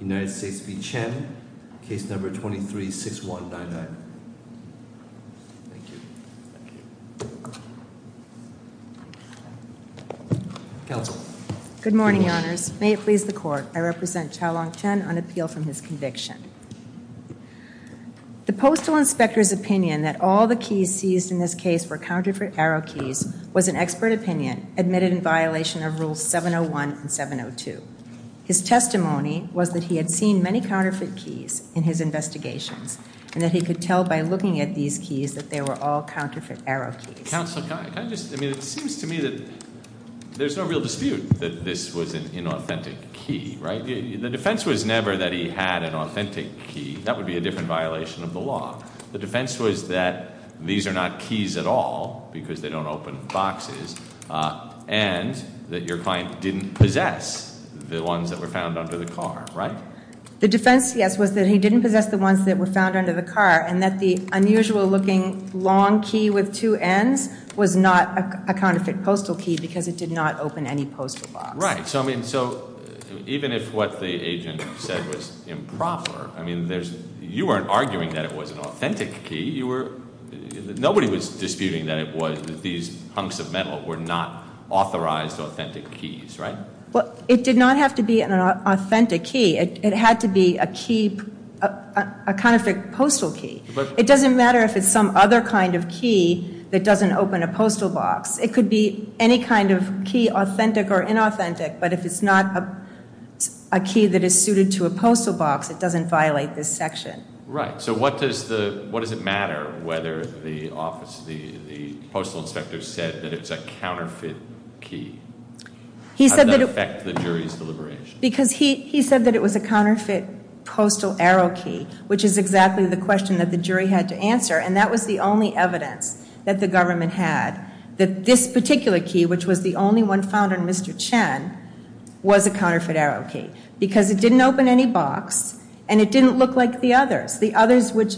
United States v. Chen. Case number 23-6199. Thank you. Counsel. Good morning, Your Honours. May it please the Court. I represent Chao-Long Chen on appeal from his conviction. The Postal Inspector's opinion that all the keys seized in this case were counterfeit arrow keys was an expert opinion admitted in violation of Rules 701 and 702. His testimony was that he had seen many counterfeit keys in his investigations and that he could tell by looking at these keys that they were all counterfeit arrow keys. Counsel, can I just, I mean, it seems to me that there's no real dispute that this was an inauthentic key, right? The defense was never that he had an authentic key. That would be a different violation of the law. The defense was that these are not keys at all because they don't open boxes and that your client didn't possess the ones that were found under the car, right? The defense, yes, was that he didn't possess the ones that were found under the car and that the unusual looking long key with two ends was not a counterfeit postal key because it did not open any postal box. Right. So, I mean, so even if what the agent said was improper, I mean, there's, you weren't arguing that it was an authentic key. You were, nobody was disputing that it was that these hunks of metal were not authorized authentic keys, right? Well, it did not have to be an authentic key. It had to be a key, a counterfeit postal key. It doesn't matter if it's some other kind of key that doesn't open a postal box. It could be any kind of key, authentic or inauthentic, but if it's not a key that is suited to a postal box, it doesn't violate this section. Right. So what does the, what does it matter whether the office, the postal inspector said that it's a counterfeit key? How did that affect the jury's deliberation? Because he said that it was a counterfeit postal arrow key, which is exactly the question that the jury had to answer, and that was the only evidence that the government had that this particular key, which was the only one found on Mr. Chen, was a counterfeit arrow key because it didn't open any box and it didn't look like the others, which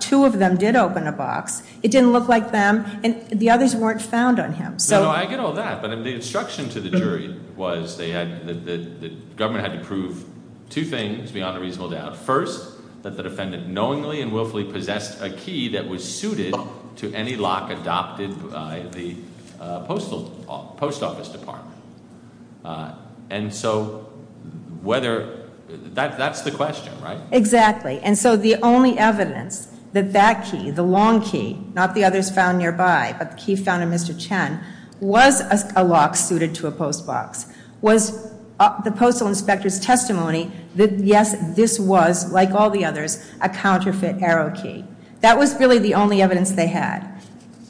two of them did open a box. It didn't look like them and the others weren't found on him. So I get all that, but the instruction to the jury was they had, the government had to prove two things beyond a reasonable doubt. First, that the defendant knowingly and willfully possessed a key that was suited to any lock adopted by the postal post office department. And so whether, that's the question, right? Exactly. And so the only evidence that that key, the long key, not the others found nearby, but the key found in Mr. Chen, was a lock suited to a post box. Was the postal inspector's testimony that, yes, this was, like all the others, a counterfeit arrow key. That was really the only evidence they had.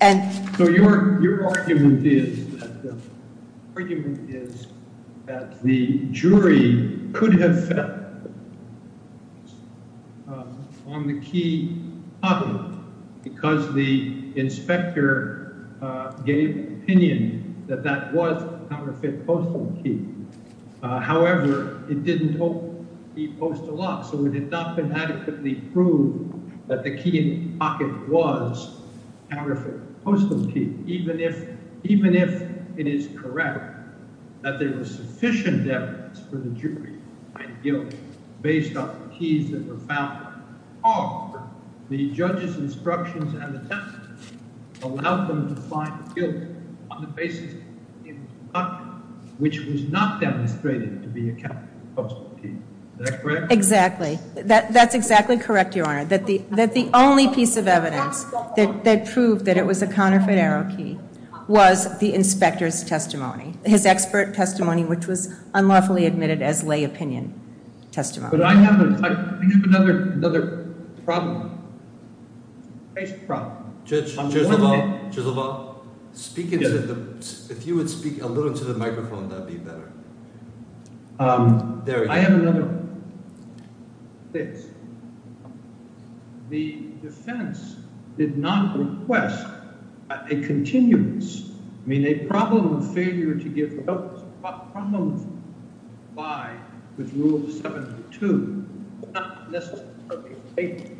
So your argument is that the jury could have felt on the key other, because the inspector gave opinion that that was a counterfeit postal key. However, it didn't hold the postal lock. So it had not been adequately proved that the key in the pocket was a counterfeit postal key, even if it is correct that there was sufficient evidence for the jury to find guilt based on the keys that were found on him. However, the judge's instructions and the testimony allowed them to find guilt on the basis of the key in the pocket, which was not demonstrated to be a counterfeit postal key. Is that correct? Exactly. That's exactly correct, Your Honor. That the only piece of evidence that proved that it was a counterfeit arrow key was the inspector's testimony. His expert testimony, which was unlawfully admitted as lay opinion testimony. But I have another another problem. Judge Gislevall, speak into the, if you would speak a little into the microphone, that'd be better. I have another thing. The defense did not request a continuance, I mean a problem of to give help, a problem of comply with Rule 72. Not necessarily a late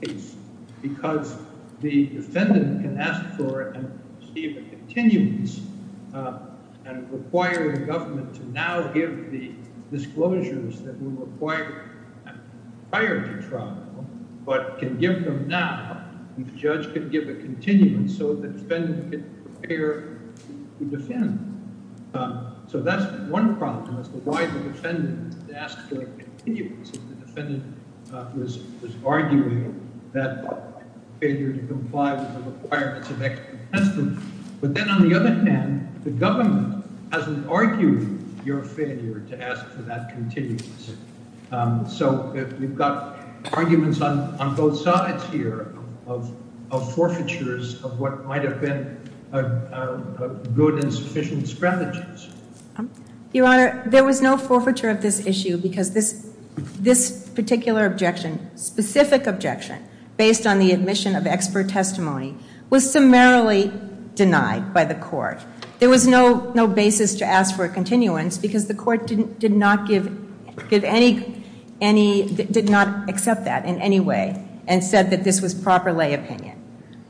case, because the defendant can ask for and receive a continuance and require the government to now give the disclosures that were required prior to trial, but can give them now. And the judge could give a continuance so the defendant could prepare to defend. So that's one problem as to why the defendant asked for a continuance, if the defendant was arguing that failure to comply with the requirements of expert testimony. But then on the other hand, the government hasn't argued your failure to ask for that continuance. So we've got arguments on both sides here of forfeitures of what might have been good and sufficient strategies. Your Honor, there was no forfeiture of this issue because this this particular objection, specific objection, based on the admission of expert testimony, was summarily denied by the court. There was no basis to ask for a continuance because the court did not give any, did not accept that in any way and said that this was proper lay opinion.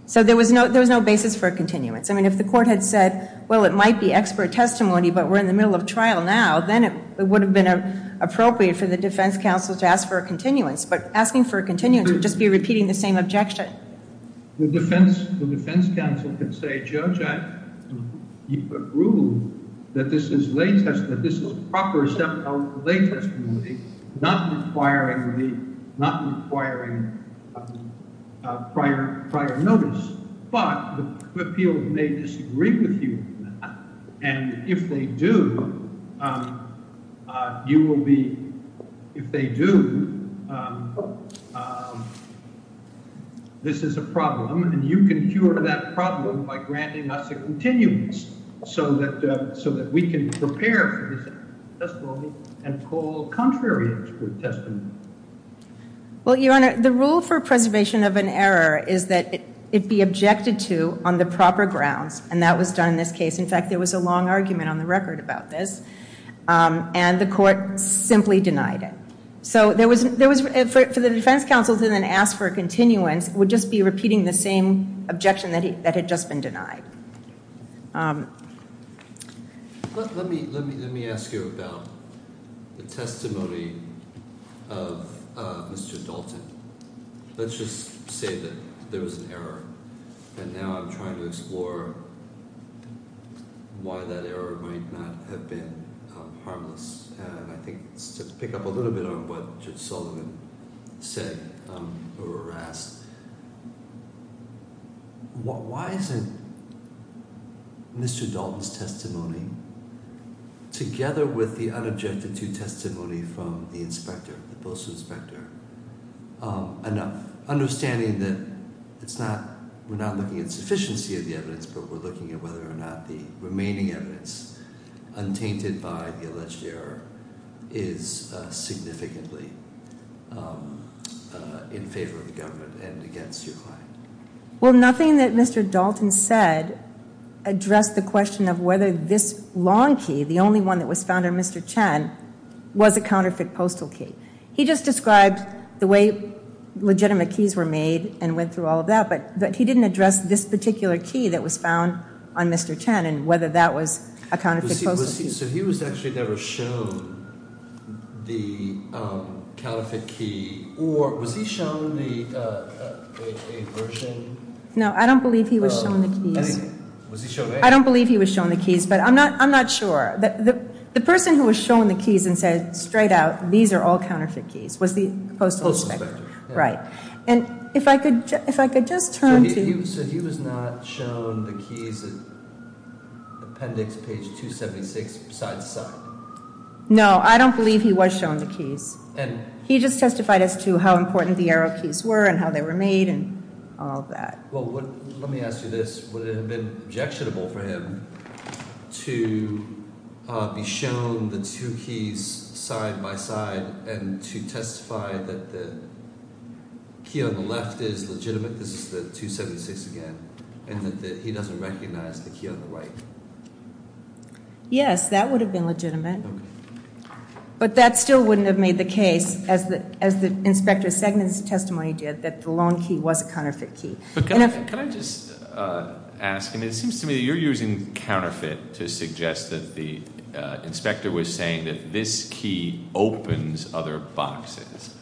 So there was no there was no basis for a continuance. I mean if the court had said, well it might be expert testimony but we're in the middle of trial now, then it would have been appropriate for the defense counsel to ask for a continuance. But asking for a continuance would just be repeating the same objection. The defense counsel could say, Judge, I think this is a proper step out of the lay testimony, not requiring prior notice. But the appeal may disagree with you on that. And if they do, you will be, if they do, this is a problem and you can cure that problem by granting us a continuance so that so that we can prepare for this testimony and call contrary expert testimony. Well, your honor, the rule for preservation of an error is that it be objected to on the proper grounds and that was done in this case. In fact, there was a long argument on the record about this and the court simply denied it. So there was there was for the defense counsel to then ask for a continuance would just be repeating the same objection that had just been denied. Your honor, let me let me let me ask you about the testimony of Mr. Dalton. Let's just say that there was an error and now I'm trying to explore why that error might not have been harmless. And I think it's to pick up a little bit on what Sullivan said or asked. Why isn't Mr. Dalton's testimony, together with the unobjected to testimony from the inspector, the post inspector, enough? Understanding that it's not, we're not looking at sufficiency of the evidence, but we're looking at whether or not the is significantly in favor of the government and against your client. Well, nothing that Mr. Dalton said addressed the question of whether this long key, the only one that was found on Mr. Chen, was a counterfeit postal key. He just described the way legitimate keys were made and went through all of that, but he didn't address this particular key that was the counterfeit key, or was he shown the version? No, I don't believe he was shown the keys. I don't believe he was shown the keys, but I'm not sure. The person who was shown the keys and said straight out, these are all counterfeit keys, was the postal inspector. Right, and if I could just turn to... He said he was not shown the keys at appendix page 276 side to side. No, I don't believe he was shown the keys. He just testified as to how important the arrow keys were and how they were made and all of that. Well, let me ask you this, would it have been objectionable for him to be shown the two keys side by side and to testify that the key on the left is legitimate, this is the 276 again, and that he doesn't recognize the other way? Yes, that would have been legitimate, but that still wouldn't have made the case as the inspector's second testimony did, that the long key was a counterfeit key. Can I just ask, and it seems to me you're using counterfeit to suggest that the inspector was saying that this key opens other boxes,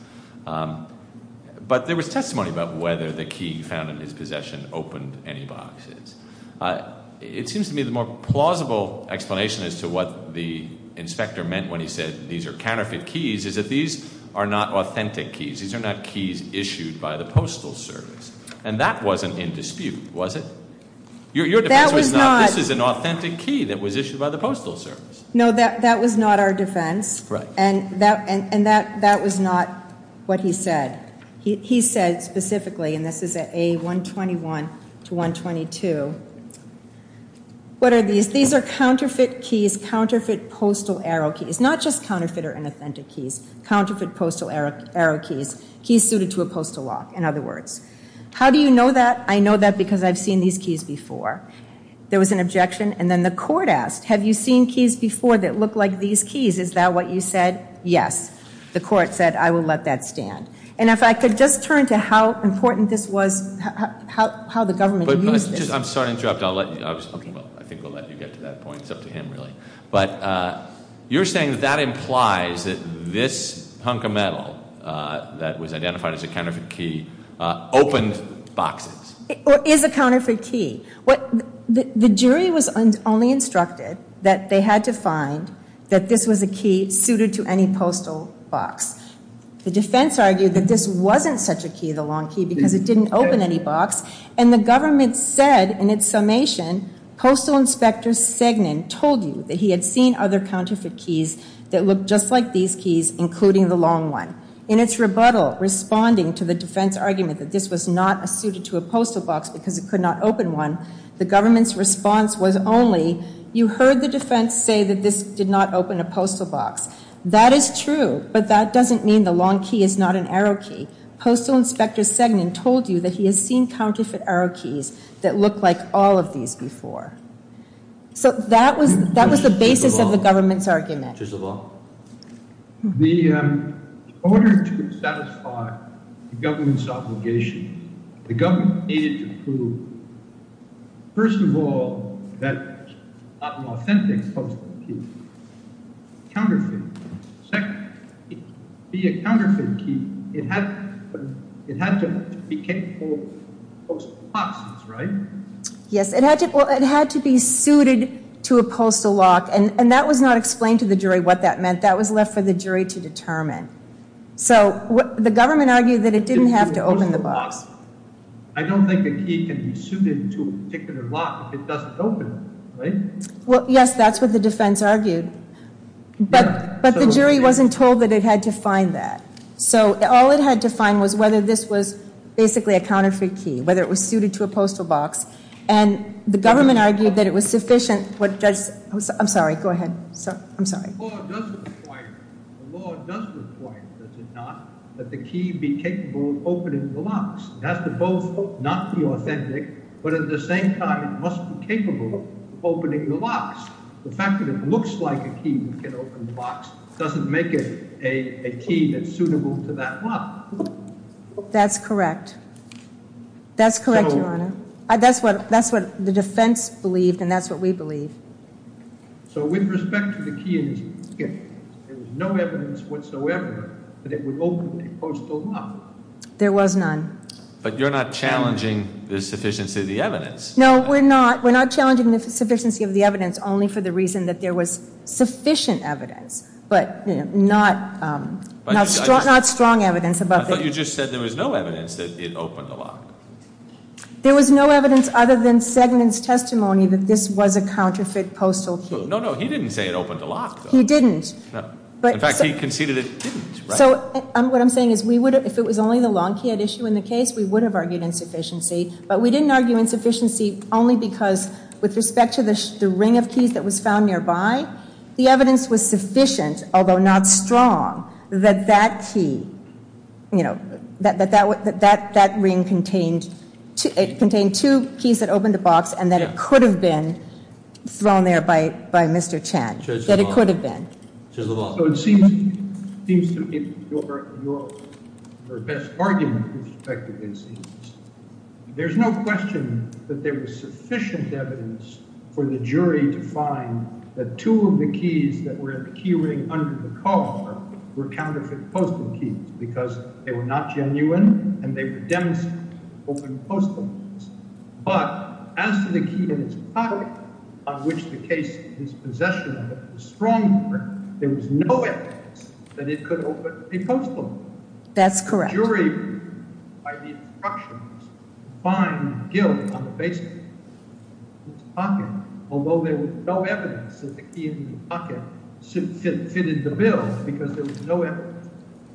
but there was testimony about whether the key found in his It seems to me the more plausible explanation as to what the inspector meant when he said these are counterfeit keys is that these are not authentic keys. These are not keys issued by the postal service, and that wasn't in dispute, was it? Your defense was not, this is an authentic key that was issued by the postal service. No, that was not our defense, and that was not what he said. He said specifically, and this is at A121 to 122, what are these? These are counterfeit keys, counterfeit postal arrow keys, not just counterfeit or inauthentic keys, counterfeit postal arrow keys, keys suited to a postal lock, in other words. How do you know that? I know that because I've seen these keys before. There was an objection, and then the court asked, have you seen keys before that look like these keys? Is that what you said? Yes. The court said, I will let that stand, and if I could just turn to how important this was, how the government used this. I'm sorry to interrupt, I'll let you, I think we'll let you get to that point, it's up to him really, but you're saying that that implies that this hunk of metal that was identified as a counterfeit key opened boxes. Or is a counterfeit key? What, the jury was only instructed that they had to find that this was a key suited to any postal box. The defense argued that this wasn't such a key, the long key, because it didn't open any box, and the government said in its summation, postal inspector Segnan told you that he had seen other counterfeit keys that looked just like these keys, including the long one. In its rebuttal, responding to the defense argument that this was not suited to a postal box because it could not open one, the government's response was only, you heard the defense say that this did not open a postal box. That is true, but that doesn't mean the long key is not an arrow key. Postal inspector Segnan told you that he has seen counterfeit arrow keys that look like all of these before. So that was, that basis of the government's argument. First of all, in order to satisfy the government's obligation, the government needed to prove, first of all, that it was not an authentic postal key, counterfeit. Second, to be a counterfeit key, it had to be capable of opening boxes, right? Yes, it had to be suited to a postal lock, and that was not explained to the jury what that meant. That was left for the jury to determine. So the government argued that it didn't have to open the box. I don't think the key can be suited to a particular lock if it doesn't open it, right? Well, yes, that's what the defense argued, but the jury wasn't told that it had to find that. So all it had to find was whether this was basically a counterfeit key, whether it was and the government argued that it was sufficient. I'm sorry, go ahead. I'm sorry. The law does require, does it not, that the key be capable of opening the locks. It has to both not be authentic, but at the same time, it must be capable of opening the locks. The fact that it looks like a key that can open the locks doesn't make it a key that's suitable to that lock. That's correct. That's correct, Your Honor. That's what the defense believed and that's what we believe. So with respect to the key, there was no evidence whatsoever that it would open a postal lock. There was none. But you're not challenging the sufficiency of the evidence. No, we're not. We're not challenging the sufficiency of the evidence only for the I thought you just said there was no evidence that it opened the lock. There was no evidence other than Segment's testimony that this was a counterfeit postal key. No, no, he didn't say it opened the lock. He didn't. In fact, he conceded it didn't. So what I'm saying is if it was only the long key at issue in the case, we would have argued insufficiency, but we didn't argue insufficiency only because with respect to the ring of keys that was found nearby, the evidence was sufficient, although not strong, that that key you know that that that that that that ring contained it contained two keys that opened the box and that it could have been thrown there by by Mr. Chan, that it could have been. So it seems to be your best argument with respect to this. There's no question that there was sufficient evidence for the jury to find that two of the keys that were in the key ring under the because they were not genuine and they were demonstrating open postal keys. But as to the key in his pocket, on which the case is possession of a strong print, there was no evidence that it could open a postal key. That's correct. The jury, by the instructions, find guilt on the base of his pocket, although there was no evidence that the key in the pocket fitted the bill because there was no evidence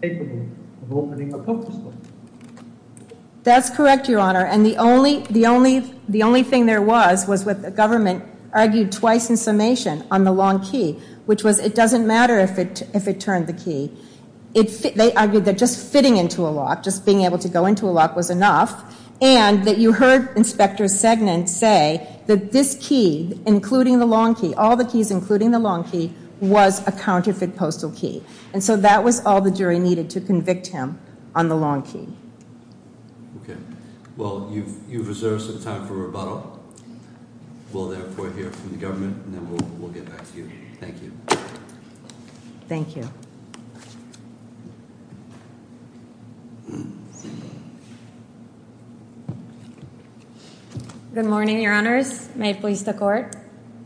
capable of opening a postal key. That's correct, your honor, and the only the only the only thing there was was what the government argued twice in summation on the long key, which was it doesn't matter if it if it turned the key. They argued that just fitting into a lock, just being able to go into a lock, was enough and that you heard inspector Segnan say that this key, including the long key, all the keys including the long key, was a counterfeit postal key. And so that was all the jury needed to convict him on the long key. Okay, well you've you've reserved some time for rebuttal. We'll therefore hear from the government and then we'll get back to you. Thank you. Thank you. Good morning, your honors. May it please the court.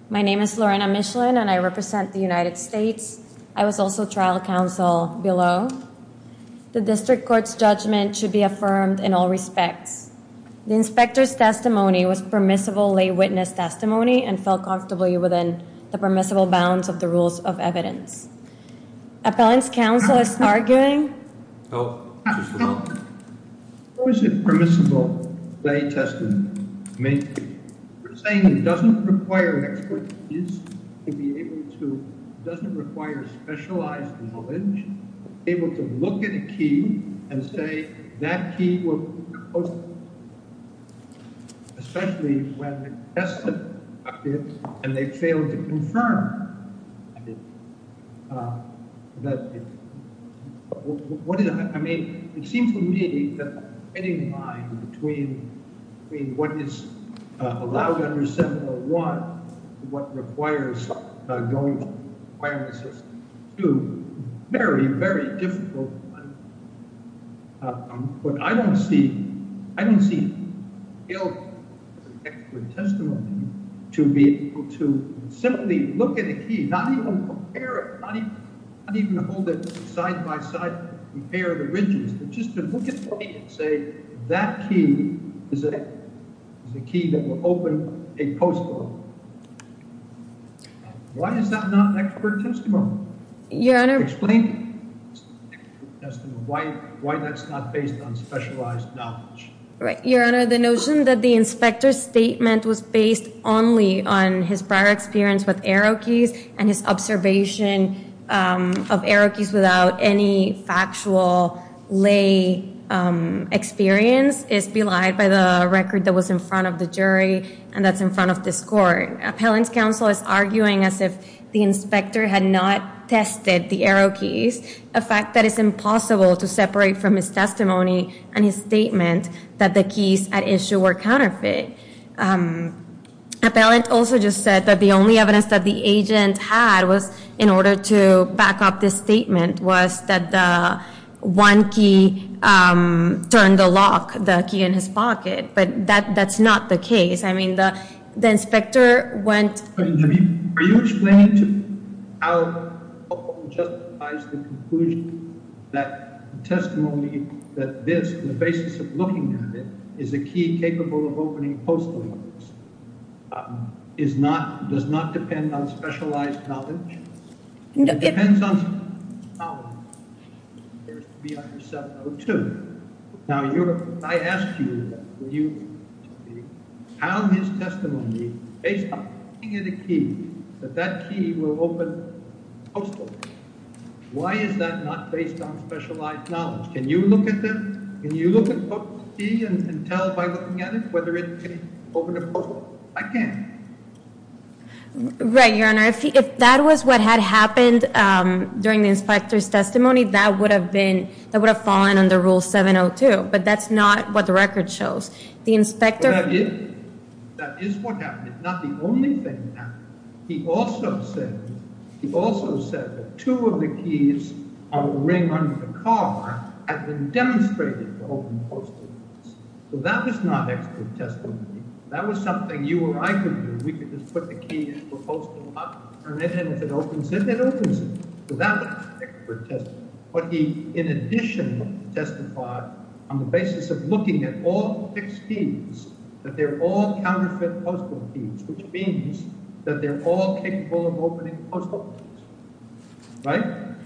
My name is Lorena Michelin and I represent the trial counsel below. The district court's judgment should be affirmed in all respects. The inspector's testimony was permissible lay witness testimony and fell comfortably within the permissible bounds of the rules of evidence. Appellant's counsel is arguing. How is it permissible lay testimony? You're saying it doesn't require an expert to be able to, doesn't require specialized knowledge, able to look at a key and say that key was especially when tested and they failed to confirm that. I mean it seems to me that any line between what is allowed under 701 and what requires going through the requirement system is very, very difficult. But I don't see, I don't see an expert testimony to be able to simply look at a key, not even compare it, not even hold it side by side, compare the ridges, but just to look at the key and say that key is a key that will open a postcard. Why is that not an expert testimony? Your honor, explain why that's not based on specialized knowledge. Your honor, the notion that the inspector's statement was based only on his prior experience with arrow keys and his observation of arrow is belied by the record that was in front of the jury and that's in front of this court. Appellant's counsel is arguing as if the inspector had not tested the arrow keys, a fact that is impossible to separate from his testimony and his statement that the keys at issue were counterfeit. Appellant also just said that the only evidence that the agent had was order to back up this statement was that the one key turned the lock, the key in his pocket, but that that's not the case. I mean the inspector went. Are you explaining to how justifies the conclusion that testimony that this, the basis of looking at it, is a key capable of opening a postcard? It depends on how it appears to be under 702. Now, I ask you, how his testimony, based on looking at a key, that that key will open a postcard. Why is that not based on specialized knowledge? Can you look at that? Can you look at the key and tell by looking at it whether it can open a postcard? I can't. Right, your honor. If that was what had happened during the inspector's testimony, that would have been, that would have fallen under rule 702, but that's not what the record shows. The inspector. That is what happened. It's not the only thing that happened. He also said, he also said that two of the keys on the ring under the car had been demonstrated to open postcards, so that was not expert testimony. That was something you or I could do. We could just put the key in the postcard and if it opens it, it opens it, so that was expert testimony. But he, in addition, testified on the basis of looking at all fixed keys, that they're all counterfeit postcard keys, which means that they're all capable of opening postcards. Right?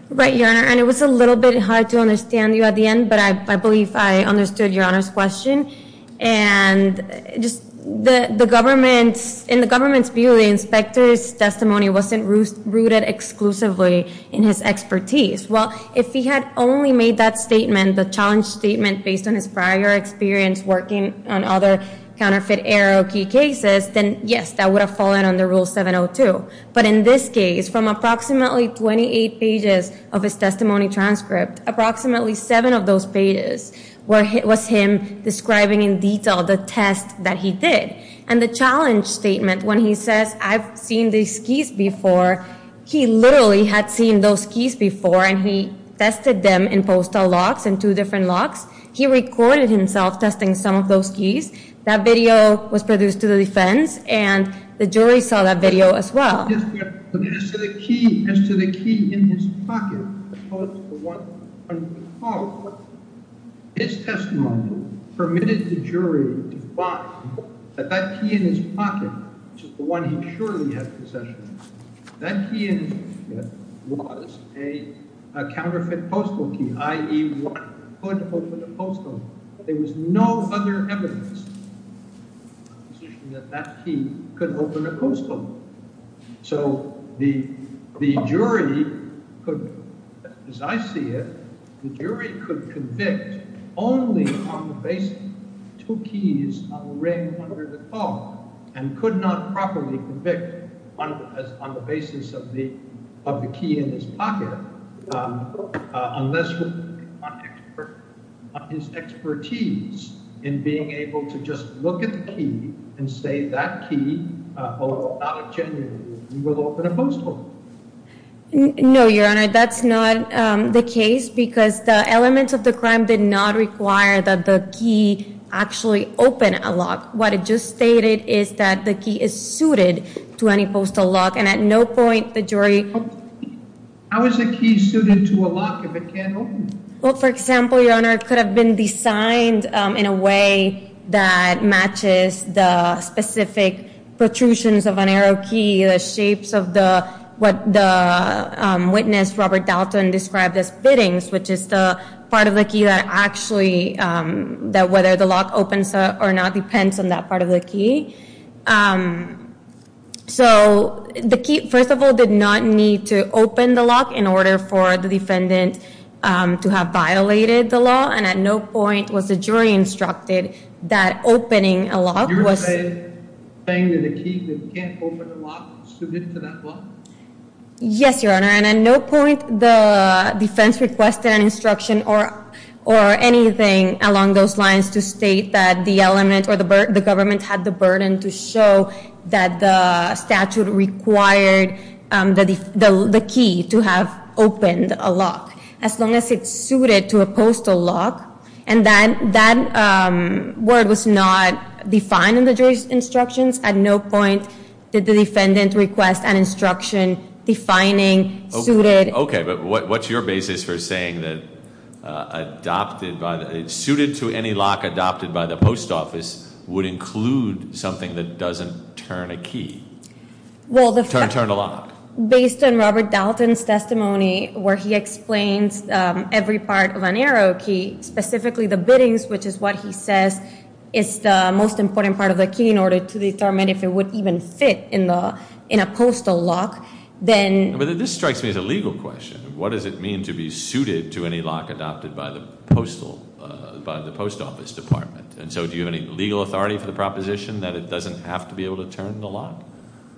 Right, your honor, and it was a little bit hard to understand you at the end, but I believe I understood your honor's question. And just the government's, in the government's view, the inspector's testimony wasn't rooted exclusively in his expertise. Well, if he had only made that statement, the challenge statement, based on his prior experience working on other counterfeit arrow key cases, then yes, that would have fallen under Rule 702. But in this case, from approximately 28 pages of his testimony transcript, approximately seven of those pages was him describing in detail the test that he did. And the challenge statement, when he says, I've seen these keys before, he literally had seen those keys before and he tested them in postal locks, in two different locks. He recorded himself testing some of those keys. That video was produced to the defense and the jury saw that video as well. As to the key in his pocket, his testimony permitted the jury to find that that key in his pocket, which is the one he surely has possession of, that key in his pocket was a counterfeit postal key, i.e. one that could open a postal. There was no other evidence that that key could open a postal. So the jury could, as I see it, the jury could convict only on the basis of two keys on the ring under the collar, and could not properly convict on the basis of the key in his pocket unless his expertise in being able to just look at the key and say that key, although not a genuine key, will open a postal. No, your honor, that's not the case because the elements of the crime did not require that the key actually open a lock. What it just stated is that the key is suited to any postal lock and at no point the jury... How is the key suited to a lock if it can't open? Well, for example, your honor, it could have been designed in a way that matches the specific protrusions of an arrow key, the shapes of what the witness, Robert Dalton, described as fittings, which is the part of the key that actually, whether the lock opens or not depends on that key. So the key, first of all, did not need to open the lock in order for the defendant to have violated the law, and at no point was the jury instructed that opening a lock was... You're saying that a key that can't open a lock is suited to that lock? Yes, your honor, and at no point the defense requested an instruction or anything along those lines to state that the element or the government had the burden to show that the statute required the key to have opened a lock, as long as it's suited to a postal lock, and that word was not defined in the jury's instructions. At no point did the defendant request an instruction defining suited... Okay, but what's your basis for saying that adopted by the... suited to any lock adopted by the post office would include something that doesn't turn a key, turn a lock? Well, based on Robert Dalton's testimony, where he explains every part of an arrow key, specifically the bittings, which is what he says is the most important part of the key in order to determine if it would even fit in a postal lock, then... This strikes me as a legal question. What does it mean to be suited to any lock adopted by the postal... by the post office department? And so, do you have any legal authority for the proposition that it doesn't have to be able to turn the lock?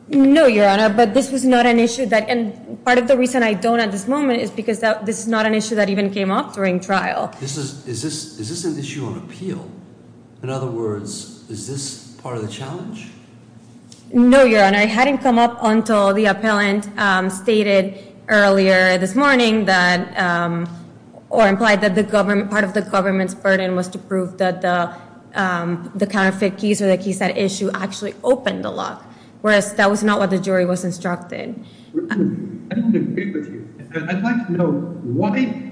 No, your honor, but this was not an issue that... and part of the reason I don't at this moment is because this is not an issue that even came up during trial. Is this an issue on appeal? In other words, is this part of the earlier this morning that... or implied that the government... part of the government's burden was to prove that the counterfeit keys or the keys that issue actually opened the lock, whereas that was not what the jury was instructed. I don't agree with you. I'd like to know why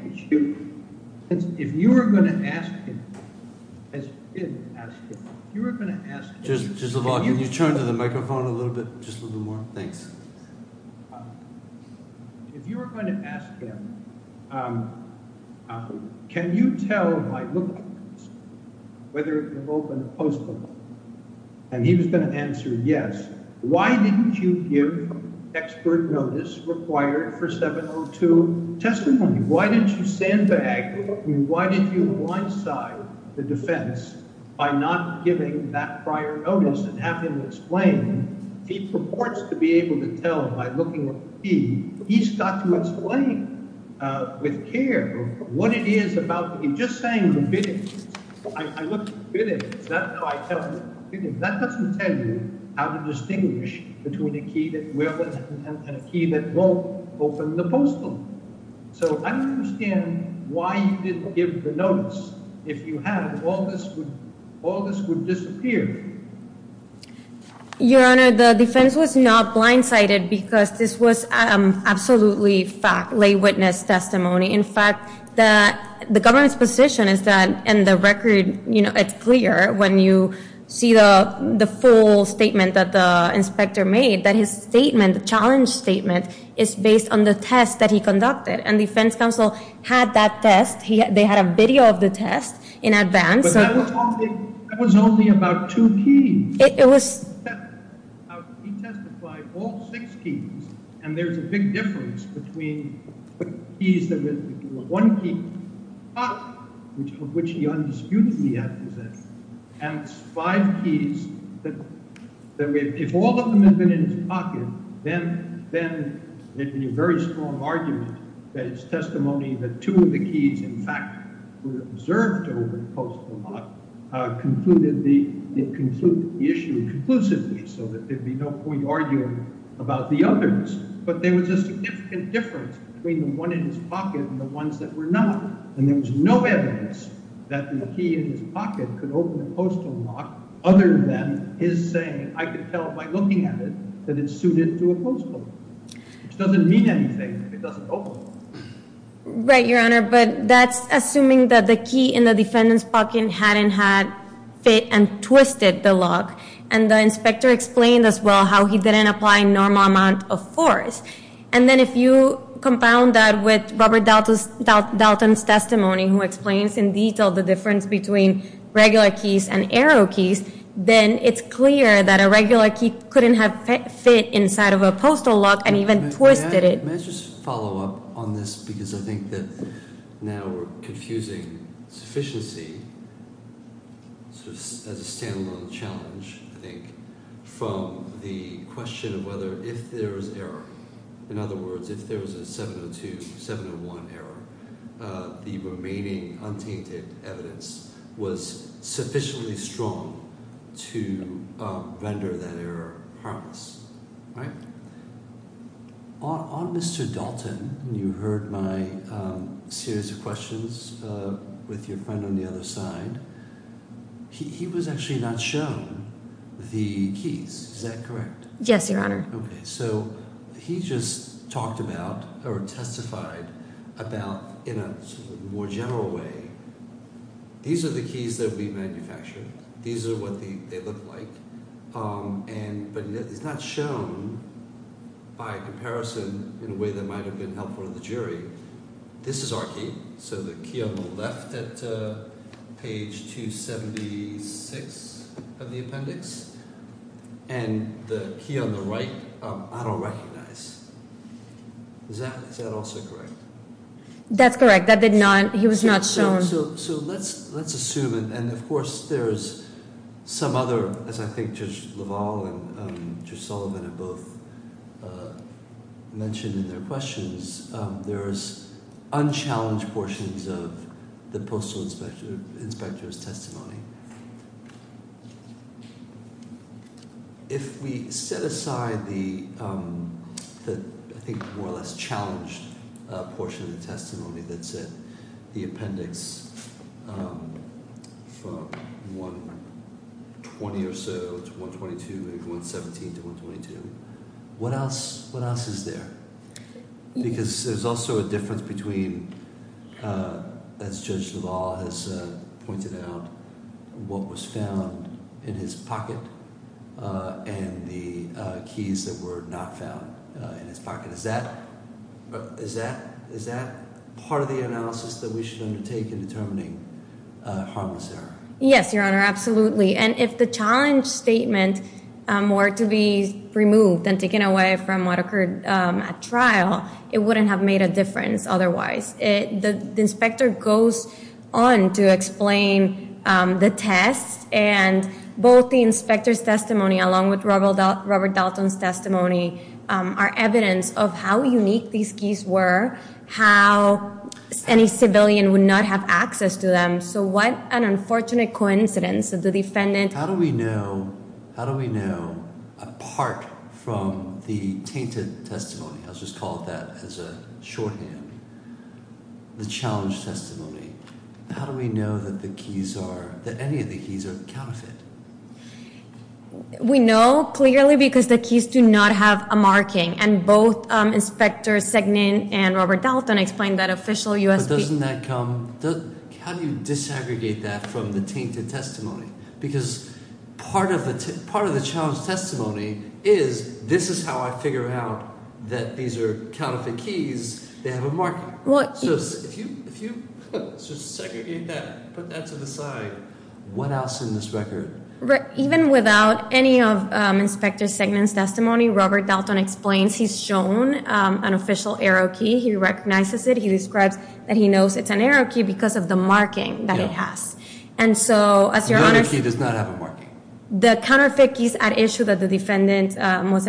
if you were going to ask him... If you were going to ask him, can you tell by looking at the keys whether it can open a postal lock? And he was going to answer yes. Why didn't you give expert notice required for 702 testimony? Why didn't you sandbag? I mean, why did you blindside the defense by not giving that prior notice and have him explain? He purports to be able to tell by looking at the key. He's got to explain with care what it is about. He's just saying the bidding. I looked at the bidding. Is that how I tell? That doesn't tell you how to distinguish between a key that will and a key that won't open the postal. So I don't understand why you didn't give the notice. If you had, all this would disappear. Your Honor, the defense was not blindsided because this was absolutely fact, lay witness testimony. In fact, the government's position is that, and the record, you know, it's clear when you see the full statement that the inspector made, that his statement, the challenge statement is based on the test that he conducted. And defense counsel had that test. They had a video of the test in advance. But that was only about two keys. He testified all six keys, and there's a big difference between the keys, one key, which he undisputedly had possessed, and five keys that if all of them had been in his pocket, then there'd be a very strong argument that his testimony that two of the keys, in fact, were observed to open the postal lock concluded the issue conclusively so that there'd be no point arguing about the others. But there was a significant difference between the one in his pocket and the ones that were not. And there was no evidence that the key in his pocket could open the postal lock other than his saying, I could tell by looking at it that it's suited to a postal lock, which doesn't mean anything if it doesn't open. Right, Your Honor. But that's assuming that the key in the defendant's pocket hadn't had fit and twisted the lock. And the inspector explained as well how he didn't apply a normal amount of force. And then if you compound that with Robert Dalton's testimony, who explains in detail the difference between regular keys and arrow keys, then it's clear that a regular key couldn't have fit inside of a postal lock and even twisted it. May I just follow up on this? Because I think that now we're confusing sufficiency as a standalone challenge, I think, from the question of whether if there was error, in other words, if there was a 702, 701 error, the remaining untainted evidence was sufficiently strong to render that error harmless, right? On Mr. Dalton, you heard my series of questions with your friend on the other side. He was actually not shown the keys. Is that correct? Yes, Your Honor. Okay. So he just talked about or testified about in a more general way, these are the keys that we manufactured. These are what they look like. But it's not shown by a comparison in a way that might have been helpful to the jury. This is our key. So the key on the left at page 276 of the appendix and the key on the right, I don't recognize. Is that also correct? That's correct. That did not, he was not shown. So let's assume, and of course, there's some other, as I think Judge LaValle and Judge Sullivan have both mentioned in their questions, there's unchallenged portions of the postal inspector's testimony. If we set aside the, I think, more or less challenged portion of the testimony that's in the appendix from 120 or so to 122, maybe 117 to 122, what else is there? Because there's also a difference between, as Judge LaValle has pointed out, what was found in his pocket and the keys that were not found in his pocket. Is that part of the analysis that we should undertake in determining harmless error? Yes, Your Honor. Absolutely. And if the challenge statement were to be removed and taken away from what occurred at trial, it wouldn't have made a difference otherwise. The inspector goes on to explain the test and both the inspector's testimony along with Robert Dalton's testimony are evidence of how unique these keys were, how any civilian would not have access to them. So what an unfortunate coincidence of the defendant. How do we know, how do we know, apart from the tainted testimony, I'll just call that as a shorthand, the challenge testimony, how do we know that the keys are, that any of the keys are counterfeit? We know clearly because the keys do not have a marking and both Inspector Segnin and Robert Dalton explained that officially. But doesn't that come, how do you disaggregate that from the tainted testimony? Because part of the challenge testimony is this is how I figure out that these are counterfeit keys, they have a marking. So if you just segregate that, put that to the side, what else in this record? Even without any of Inspector Segnin's testimony, Robert Dalton explains he's shown an official arrow key, he recognizes it, he describes that he knows it's an arrow key because of the marking that it has. And so as Your Honor. The arrow key does not have a marking. The counterfeit keys at issue that the defendant was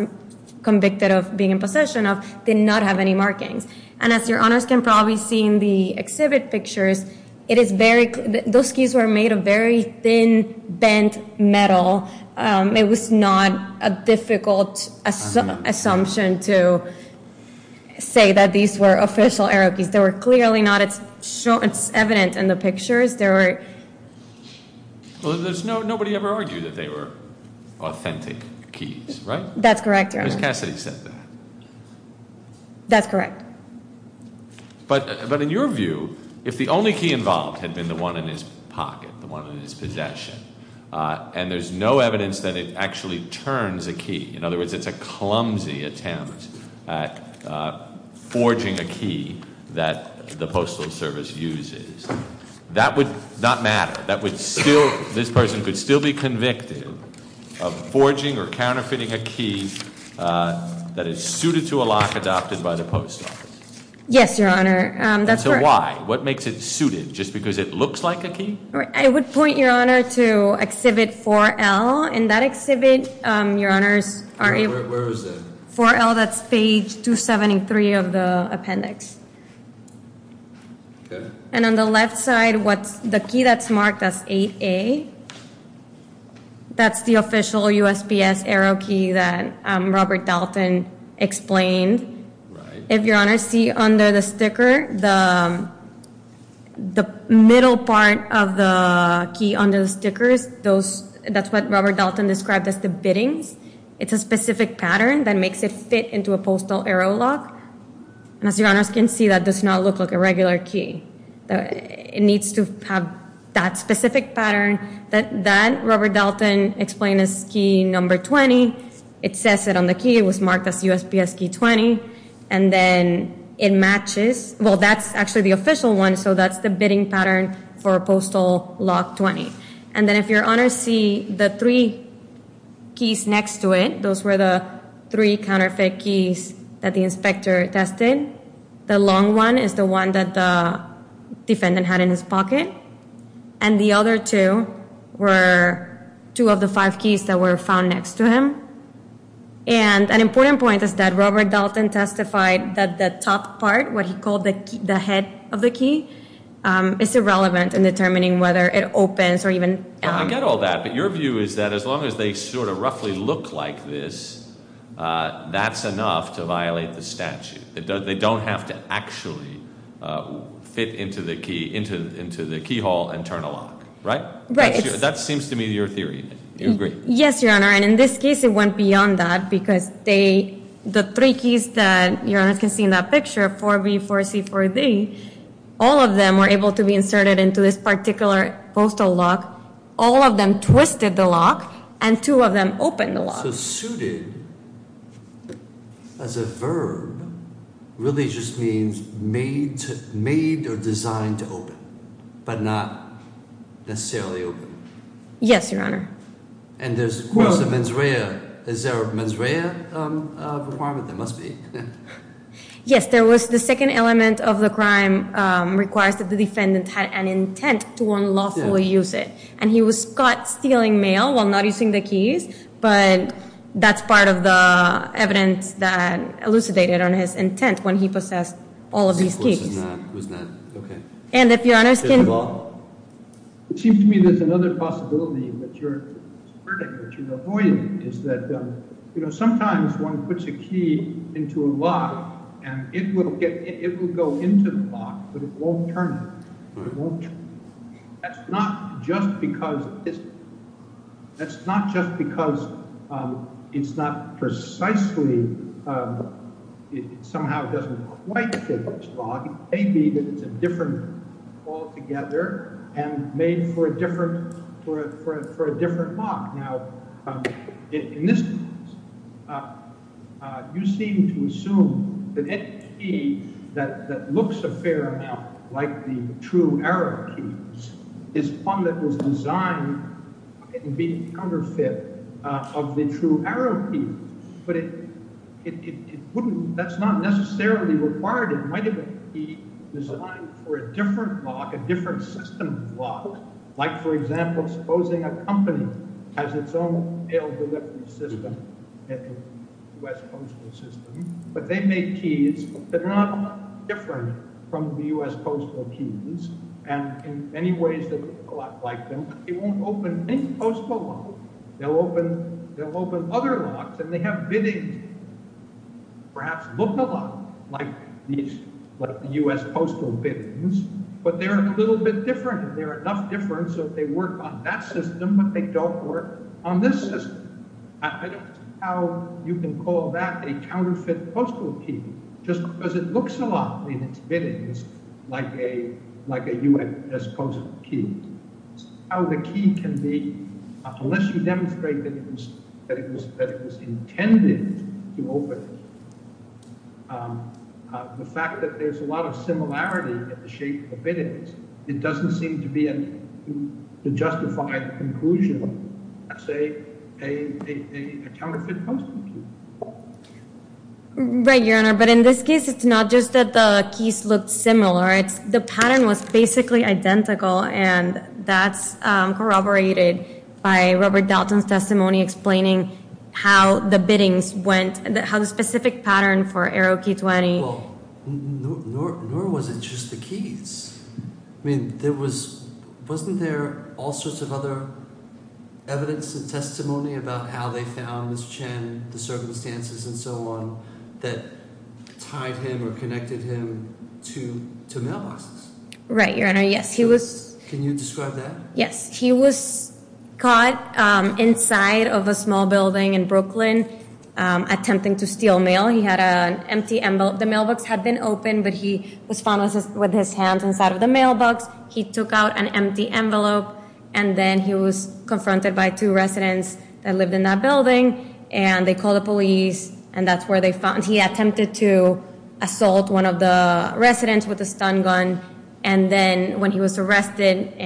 convicted of being in possession of did not have any markings. And as Your Honors can probably see in the exhibit pictures, it is very, those keys were made of very thin bent metal. It was not a difficult assumption to say that these were official arrow keys. There were clearly not, it's evident in the pictures, there were. Well there's no, nobody ever argued that they were authentic keys, right? That's correct, Your Honor. Ms. Cassidy said that. That's correct. But, but in your view, if the only key involved had been the one in his pocket, the one in his possession, and there's no evidence that it actually turns a key, in other words it's a That would not matter. That would still, this person could still be convicted of forging or counterfeiting a key that is suited to a lock adopted by the post office. Yes, Your Honor. So why? What makes it suited? Just because it looks like a key? I would point Your Honor to exhibit 4L. In that exhibit, Your Honors, 4L that's page 273 of the left side, what's the key that's marked as 8A, that's the official USPS arrow key that Robert Dalton explained. If Your Honor see under the sticker, the middle part of the key under the stickers, those, that's what Robert Dalton described as the bittings. It's a specific pattern that makes it fit into a postal arrow lock. And as Your Honors can see, that does not look like a regular key. It needs to have that specific pattern that Robert Dalton explained as key number 20. It says it on the key, it was marked as USPS key 20. And then it matches, well that's actually the official one, so that's the bidding pattern for postal lock 20. And then if Your Honors see the three keys next to it, those were the three counterfeit keys that the inspector tested. The long one is the one that the defendant had in his pocket. And the other two were two of the five keys that were found next to him. And an important point is that Robert Dalton testified that the top part, what he called the head of the key, is irrelevant in determining whether it opens or even... I get all that, but your view is that as long as they sort of roughly look like this, that's enough to violate the statute. They don't have to actually fit into the key, into the keyhole and turn a lock, right? Right. That seems to me your theory. You agree? Yes, Your Honor. And in this case, it went beyond that because the three keys that Your Honors can see in that picture, 4B, 4C, 4D, all of them were able to be inserted into this particular postal lock. All of them twisted the lock and two of them opened the lock. So suited as a verb really just means made or designed to open, but not necessarily open. Yes, Your Honor. And there's of course the mens rea. Is there a mens rea requirement? There must be. Yes, there was. The second element of the crime requires that the defendant had an intent to and he was caught stealing mail while not using the keys, but that's part of the evidence that elucidated on his intent when he possessed all of these keys. And if Your Honors can... It seems to me there's another possibility that you're avoiding is that, you know, sometimes one puts a key into a lock and it will get, it will go into the lock, but it won't turn. It won't turn. That's not just because it's, that's not just because it's not precisely, it somehow doesn't quite fit this lock. It may be that it's a different altogether and made for a different, for a different lock. Now in this case, you seem to assume that any key that looks a fair amount like the true arrow key is one that was designed to be under fit of the true arrow key, but it wouldn't, that's not necessarily required. It might have been designed for a different lock, a different system of lock, like for example, supposing a company has its own mail delivery system, U.S. postal system, but they make keys that are not different from the U.S. postal keys, and in many ways they look a lot like them, but they won't open any postal lock. They'll open, they'll open other locks and they have biddings that perhaps look a lot like these, like the U.S. different, so they work on that system, but they don't work on this system. I don't know how you can call that a counterfeit postal key, just because it looks a lot in its biddings like a, like a U.S. postal key. How the key can be, unless you demonstrate that it was, that it was, that it was intended to open, the fact that there's a lot of similarity in the shape of the justified conclusion, that's a counterfeit postal key. Right, Your Honor, but in this case, it's not just that the keys looked similar. It's, the pattern was basically identical, and that's corroborated by Robert Dalton's testimony explaining how the biddings went, how the specific pattern for Arrow Key 20. Well, nor was it just the keys. I mean, there was, wasn't there all sorts of other evidence and testimony about how they found Ms. Chen, the circumstances and so on, that tied him or connected him to mailboxes? Right, Your Honor, yes, he was. Can you describe that? Yes, he was caught inside of a small building in Brooklyn attempting to steal mail. He had an open, but he was found with his hands inside of the mailbox. He took out an empty envelope, and then he was confronted by two residents that lived in that building, and they called the police, and that's where they found, he attempted to assault one of the residents with a stun gun, and then when he was arrested,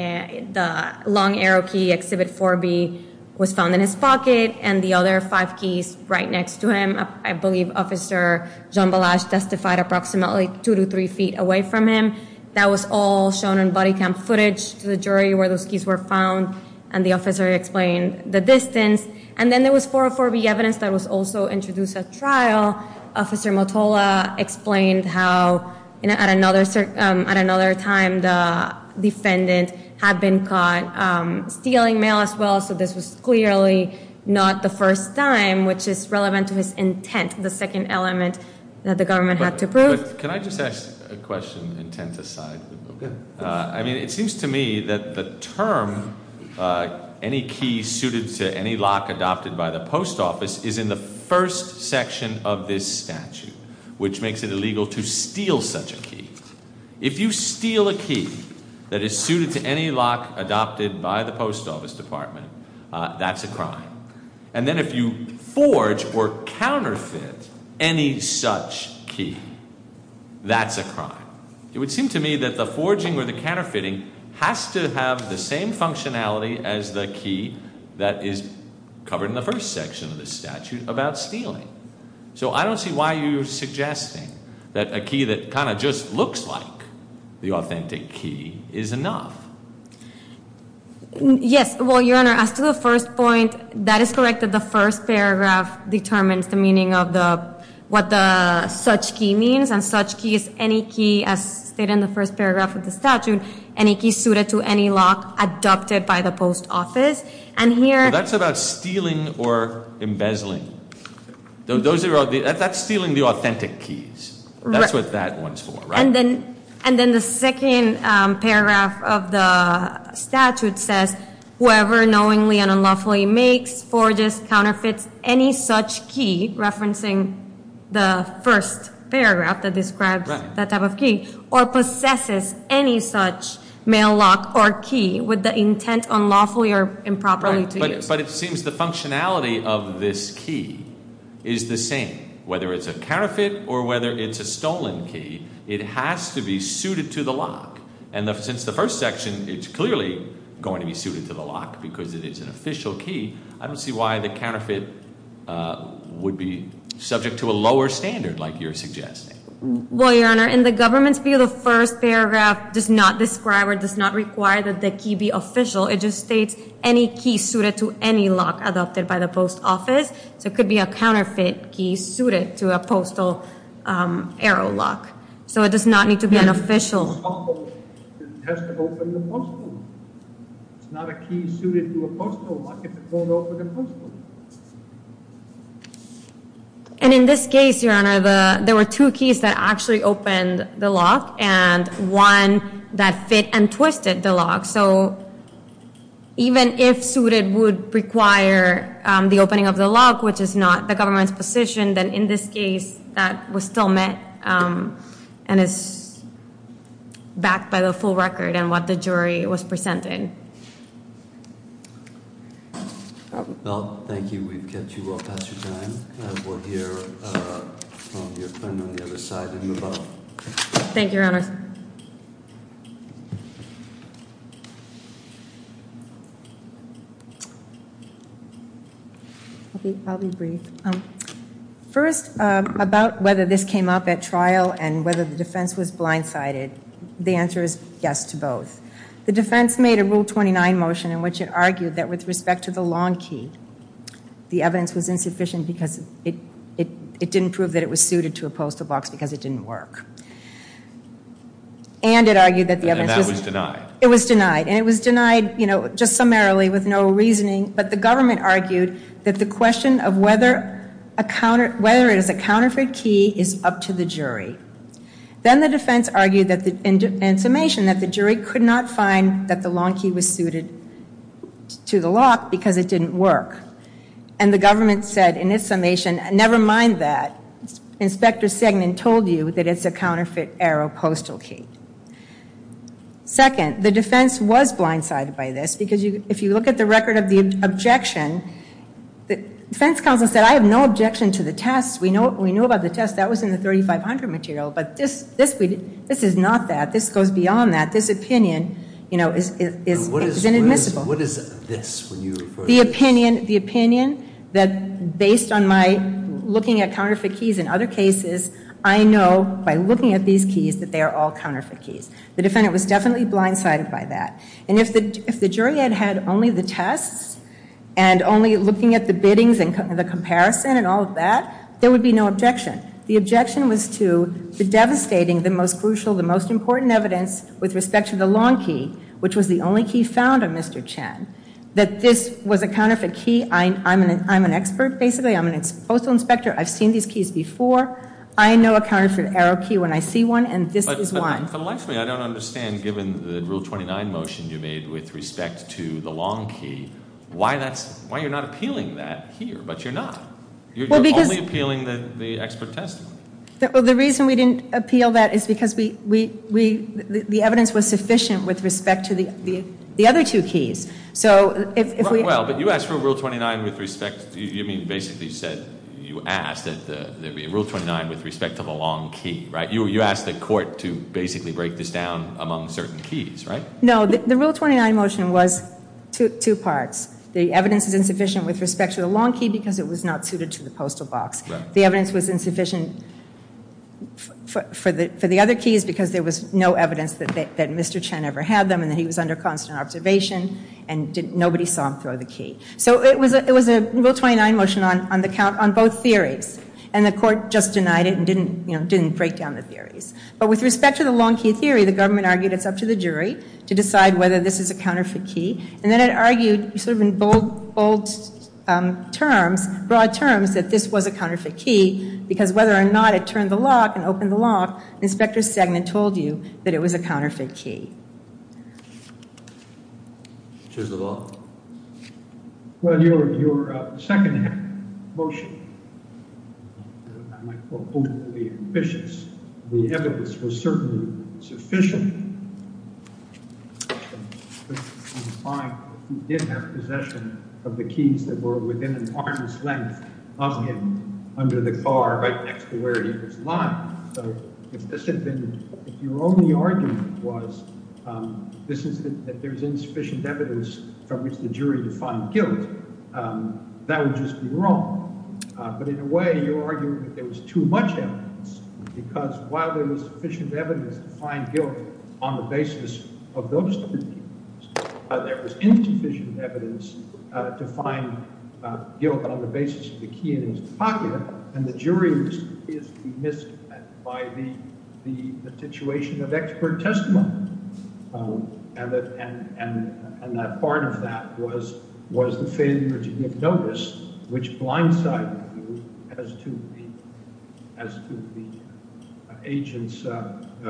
the long Arrow Key Exhibit 4B was found in his pocket, and the other five keys right next to him, I believe Officer Jean Balazs testified approximately two to three feet away from him. That was all shown in body cam footage to the jury where those keys were found, and the officer explained the distance, and then there was 404B evidence that was also introduced at trial. Officer Motola explained how at another time the defendant had been caught stealing mail as well, so this was clearly not the first time, which is relevant to his intent, the second element that the government had to prove. Can I just ask a question intent aside? I mean, it seems to me that the term any key suited to any lock adopted by the post office is in the first section of this statute, which makes it illegal to steal such a that is suited to any lock adopted by the post office department. That's a crime, and then if you forge or counterfeit any such key, that's a crime. It would seem to me that the forging or the counterfeiting has to have the same functionality as the key that is covered in the first section of the statute about stealing, so I don't see why you're suggesting that a key that kind of just looks like the authentic key is enough. Yes, well your honor, as to the first point, that is correct that the first paragraph determines the meaning of the what the such key means, and such key is any key as stated in the first paragraph of the statute, any key suited to any lock adopted by the post office, and here... That's about stealing or embezzling. Those are that's stealing the authentic keys. That's what that one's for, right? And then the second paragraph of the statute says whoever knowingly and unlawfully makes, forges, counterfeits any such key, referencing the first paragraph that describes that type of key, or possesses any such mail lock or key with the intent unlawfully or improperly to use. But it seems the functionality of this key is the same. Whether it's a counterfeit or whether it's a stolen key, it has to be suited to the lock, and since the first section it's clearly going to be suited to the lock because it is an official key, I don't see why the counterfeit would be subject to a lower standard like you're suggesting. Well your honor, in the government's view, the first paragraph does not describe or does not require that the key be official. It just states any key suited to any lock adopted by the post office. So it could be a counterfeit key suited to a postal arrow lock. So it does not need to be an official. And in this case, your honor, there were two keys that actually opened the lock and one that fit and which is not the government's position. Then in this case, that was still met and is backed by the full record and what the jury was presented. Well, thank you. We've kept you well past your time. We'll hear from your friend on the other side. Thank you, your honor. I'll be brief. First, about whether this came up at trial and whether the defense was blindsided, the answer is yes to both. The defense made a rule 29 motion in which it argued that with respect to the long key, the evidence was insufficient because it didn't prove that it was suited to a postal box because it didn't work. And it argued that the evidence was denied. It was denied just summarily with no reasoning. But the government argued that the question of whether it is a counterfeit key is up to the jury. Then the defense argued that in summation that the jury could not find that the long key was suited to the lock because it didn't work. And the government said in its summation, never mind that. Inspector Sagan told you that it's a counterfeit arrow postal key. Second, the defense was blindsided by this because if you look at the record of the objection, the defense counsel said I have no objection to the test. We know about the test. That was in the 3500 material. But this is not that. This goes beyond that. This opinion is inadmissible. What is this when you refer to this? The opinion that based on my looking at these keys that they are all counterfeit keys. The defendant was definitely blindsided by that. And if the jury had had only the tests and only looking at the biddings and the comparison and all of that, there would be no objection. The objection was to the devastating, the most crucial, the most important evidence with respect to the long key, which was the only key found on Mr. Chen, that this was a counterfeit key. I'm an expert basically. I'm a postal inspector. I've seen these keys before. I know a counterfeit arrow key when I see one, and this is one. I don't understand, given the Rule 29 motion you made with respect to the long key, why you're not appealing that here? But you're not. You're only appealing the expert testimony. The reason we didn't appeal that is because the evidence was sufficient with respect to the other two keys. Well, but you asked for a Rule 29 with respect, you mean basically said, you asked that there be a Rule 29 with respect to the long key, right? You asked the court to basically break this down among certain keys, right? No, the Rule 29 motion was two parts. The evidence is insufficient with respect to the long key because it was not suited to the postal box. The evidence was insufficient for the other keys because there was no evidence that Mr. Chen ever had them and that he was under constant observation and nobody saw him throw the key. So it was a Rule 29 motion on the count, on both theories, and the court just denied it and didn't, you know, didn't break down the theories. But with respect to the long key theory, the government argued it's up to the jury to decide whether this is a counterfeit key, and then it argued sort of in bold terms, broad terms, that this was a counterfeit key because whether or not it turned the lock and opened the lock, Inspector Stegman told you that it was a counterfeit key. Choose the law. Well, your second motion, I might quote, boldly, ambitious. The evidence was certainly sufficient. He did have possession of the keys that were within an arm's length of him under the car right next to where he was lying. So if this had been, if your only argument was this is that there's insufficient evidence from which the jury defined guilt, that would just be wrong. But in a way, you're arguing that there was too much evidence because while there was sufficient evidence to find guilt on the basis of those three keys, there was insufficient evidence to find guilt on the basis of the key in his pocket, and the jury is remissed by the situation of expert testimony, and that part of that was the failure to give notice, which blindsided you as to the agent's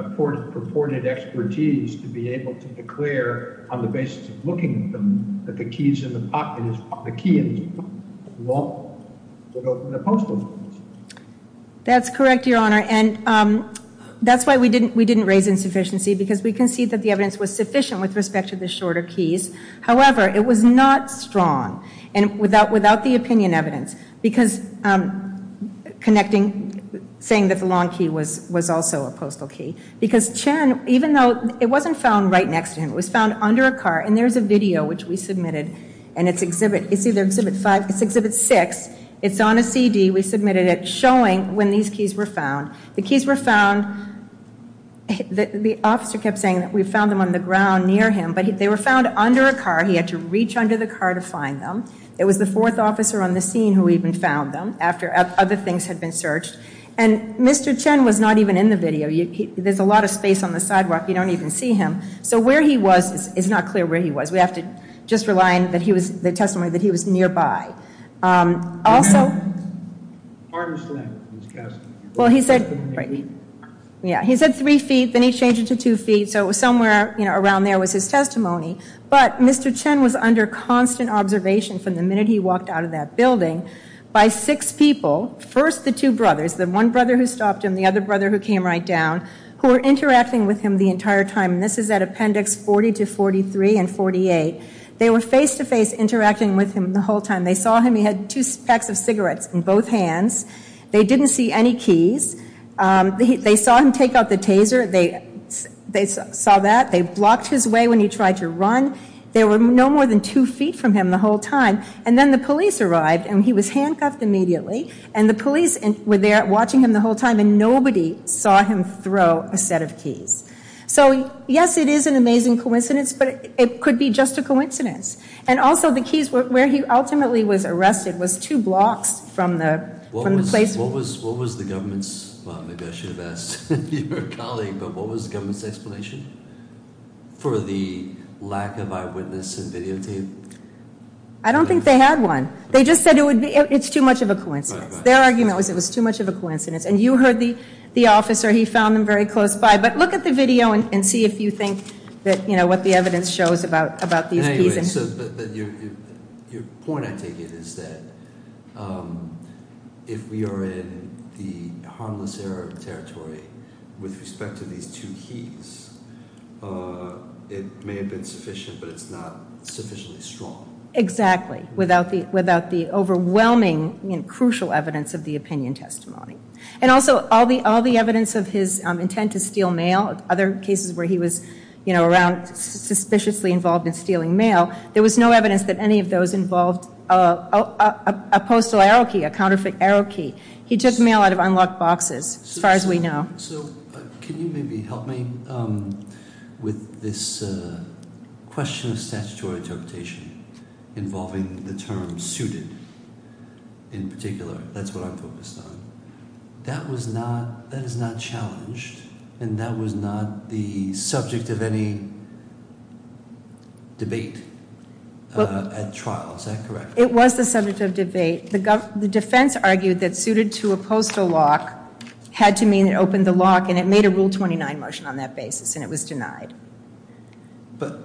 purported expertise to be able to declare on the basis of looking at them that the keys in the pocket is the key in his pocket. Well, in a postal. That's correct, Your Honor, and that's why we didn't raise insufficiency because we concede that the evidence was sufficient with respect to the shorter keys. However, it was not strong, and without the opinion evidence, because connecting, saying that the long key was also a postal key, because Chen, even though it wasn't found right next to him, it was found under a car, and there's a video which we submitted, and it's exhibit, it's either exhibit five, it's exhibit six. It's on a CD. We submitted it showing when these keys were found. The keys were found, the officer kept saying that we found them on the ground near him, but they were found under a car. He had to reach under the car to find them. It was the fourth officer on the scene who even found them after other things had been searched, and Mr. Chen was not even in the video. There's a lot of space on the sidewalk. You don't even see him, so where he nearby. Also, he said three feet, then he changed it to two feet, so it was somewhere around there was his testimony, but Mr. Chen was under constant observation from the minute he walked out of that building by six people. First, the two brothers, the one brother who stopped him, the other brother who came right down, who were interacting with him the entire time, and this is at appendix 40 to 43 and 48. They were face-to-face interacting with him the whole time. They saw him. He had two packs of cigarettes in both hands. They didn't see any keys. They saw him take out the taser. They saw that. They blocked his way when he tried to run. They were no more than two feet from him the whole time, and then the police arrived, and he was handcuffed immediately, and the police were there watching him the whole time, and nobody saw him throw a set of keys. So yes, it is an it could be just a coincidence, and also the keys where he ultimately was arrested was two blocks from the place. What was the government's, well, maybe I should have asked your colleague, but what was the government's explanation for the lack of eyewitness and videotape? I don't think they had one. They just said it would be, it's too much of a coincidence. Their argument was it was too much of a coincidence, and you heard the officer. He found them very close by, but look at the video and about these keys. Your point, I take it, is that if we are in the harmless era of the territory with respect to these two keys, it may have been sufficient, but it's not sufficiently strong. Exactly. Without the overwhelming and crucial evidence of the opinion testimony, and also all the evidence of his intent to steal mail. Other cases where he was, you know, around suspiciously involved in stealing mail, there was no evidence that any of those involved a postal arrow key, a counterfeit arrow key. He took mail out of unlocked boxes, as far as we know. So can you maybe help me with this question of statutory interpretation involving the term suited in particular? That's what I'm focused on. That was not, that is not challenged, and that was not the subject of any debate at trial, is that correct? It was the subject of debate. The defense argued that suited to a postal lock had to mean it opened the lock, and it made a rule 29 motion on that basis, and it was denied. But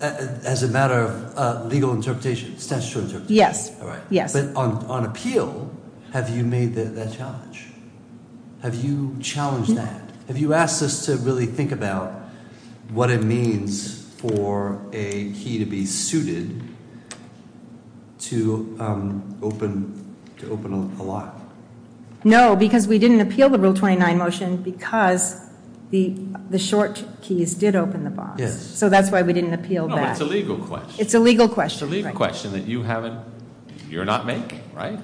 as a matter of legal interpretation, statutory interpretation. Yes, yes. But on appeal, have you made that challenge? Have you challenged that? Have you asked us to really think about what it means for a key to be suited to open, to open a lock? No, because we didn't appeal the rule 29 motion because the short keys did open the box. Yes. So that's why we didn't appeal that. No, but it's a legal question. It's a legal question. It's a legal question that you haven't, you're not making, right?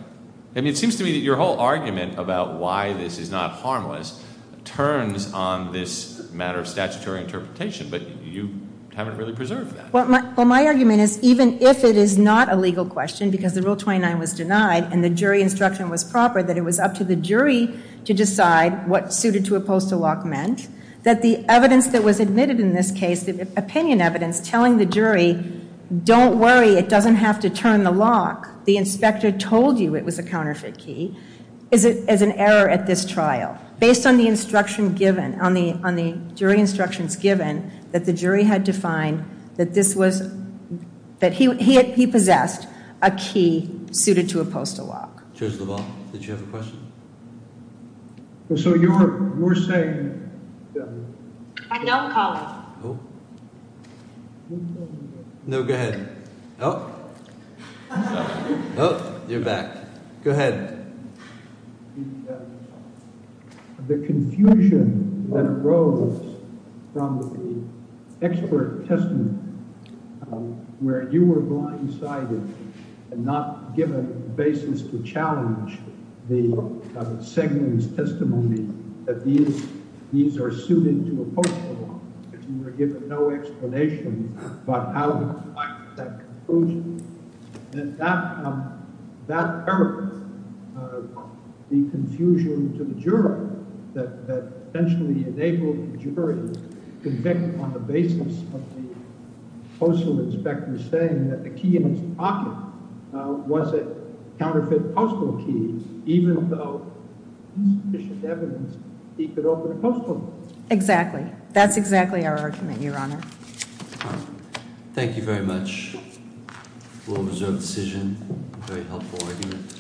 I mean, it seems to me that your whole argument about why this is not harmless turns on this matter of statutory interpretation, but you haven't really preserved that. Well, my argument is even if it is not a legal question, because the rule 29 was denied, and the jury instruction was proper, that it was up to the jury to decide what suited to a postal lock meant, that the evidence that was admitted in this case, the opinion evidence telling the jury, don't worry, it doesn't have to turn the lock. The inspector told you it was a counterfeit key, is it as an error at this trial, based on the instruction given, on the jury instructions given, that the jury had to find that this was, that he possessed a key suited to a postal lock. Judge LaValle, did you have a question? No, go ahead. Oh, oh, you're back. Go ahead. The confusion that arose from the expert testament, where you were blindsided and not given a basis to challenge the segment's testimony that these are suited to a postal lock, and you were given no explanation about how to come to that conclusion, that hurt the confusion to the jury, that essentially enabled the jury to convict on the basis of the argument. Was it a counterfeit postal key, even though there's sufficient evidence he could open a postal lock? Exactly. That's exactly our argument, Your Honor. Thank you very much. Well-reserved decision. Very helpful argument.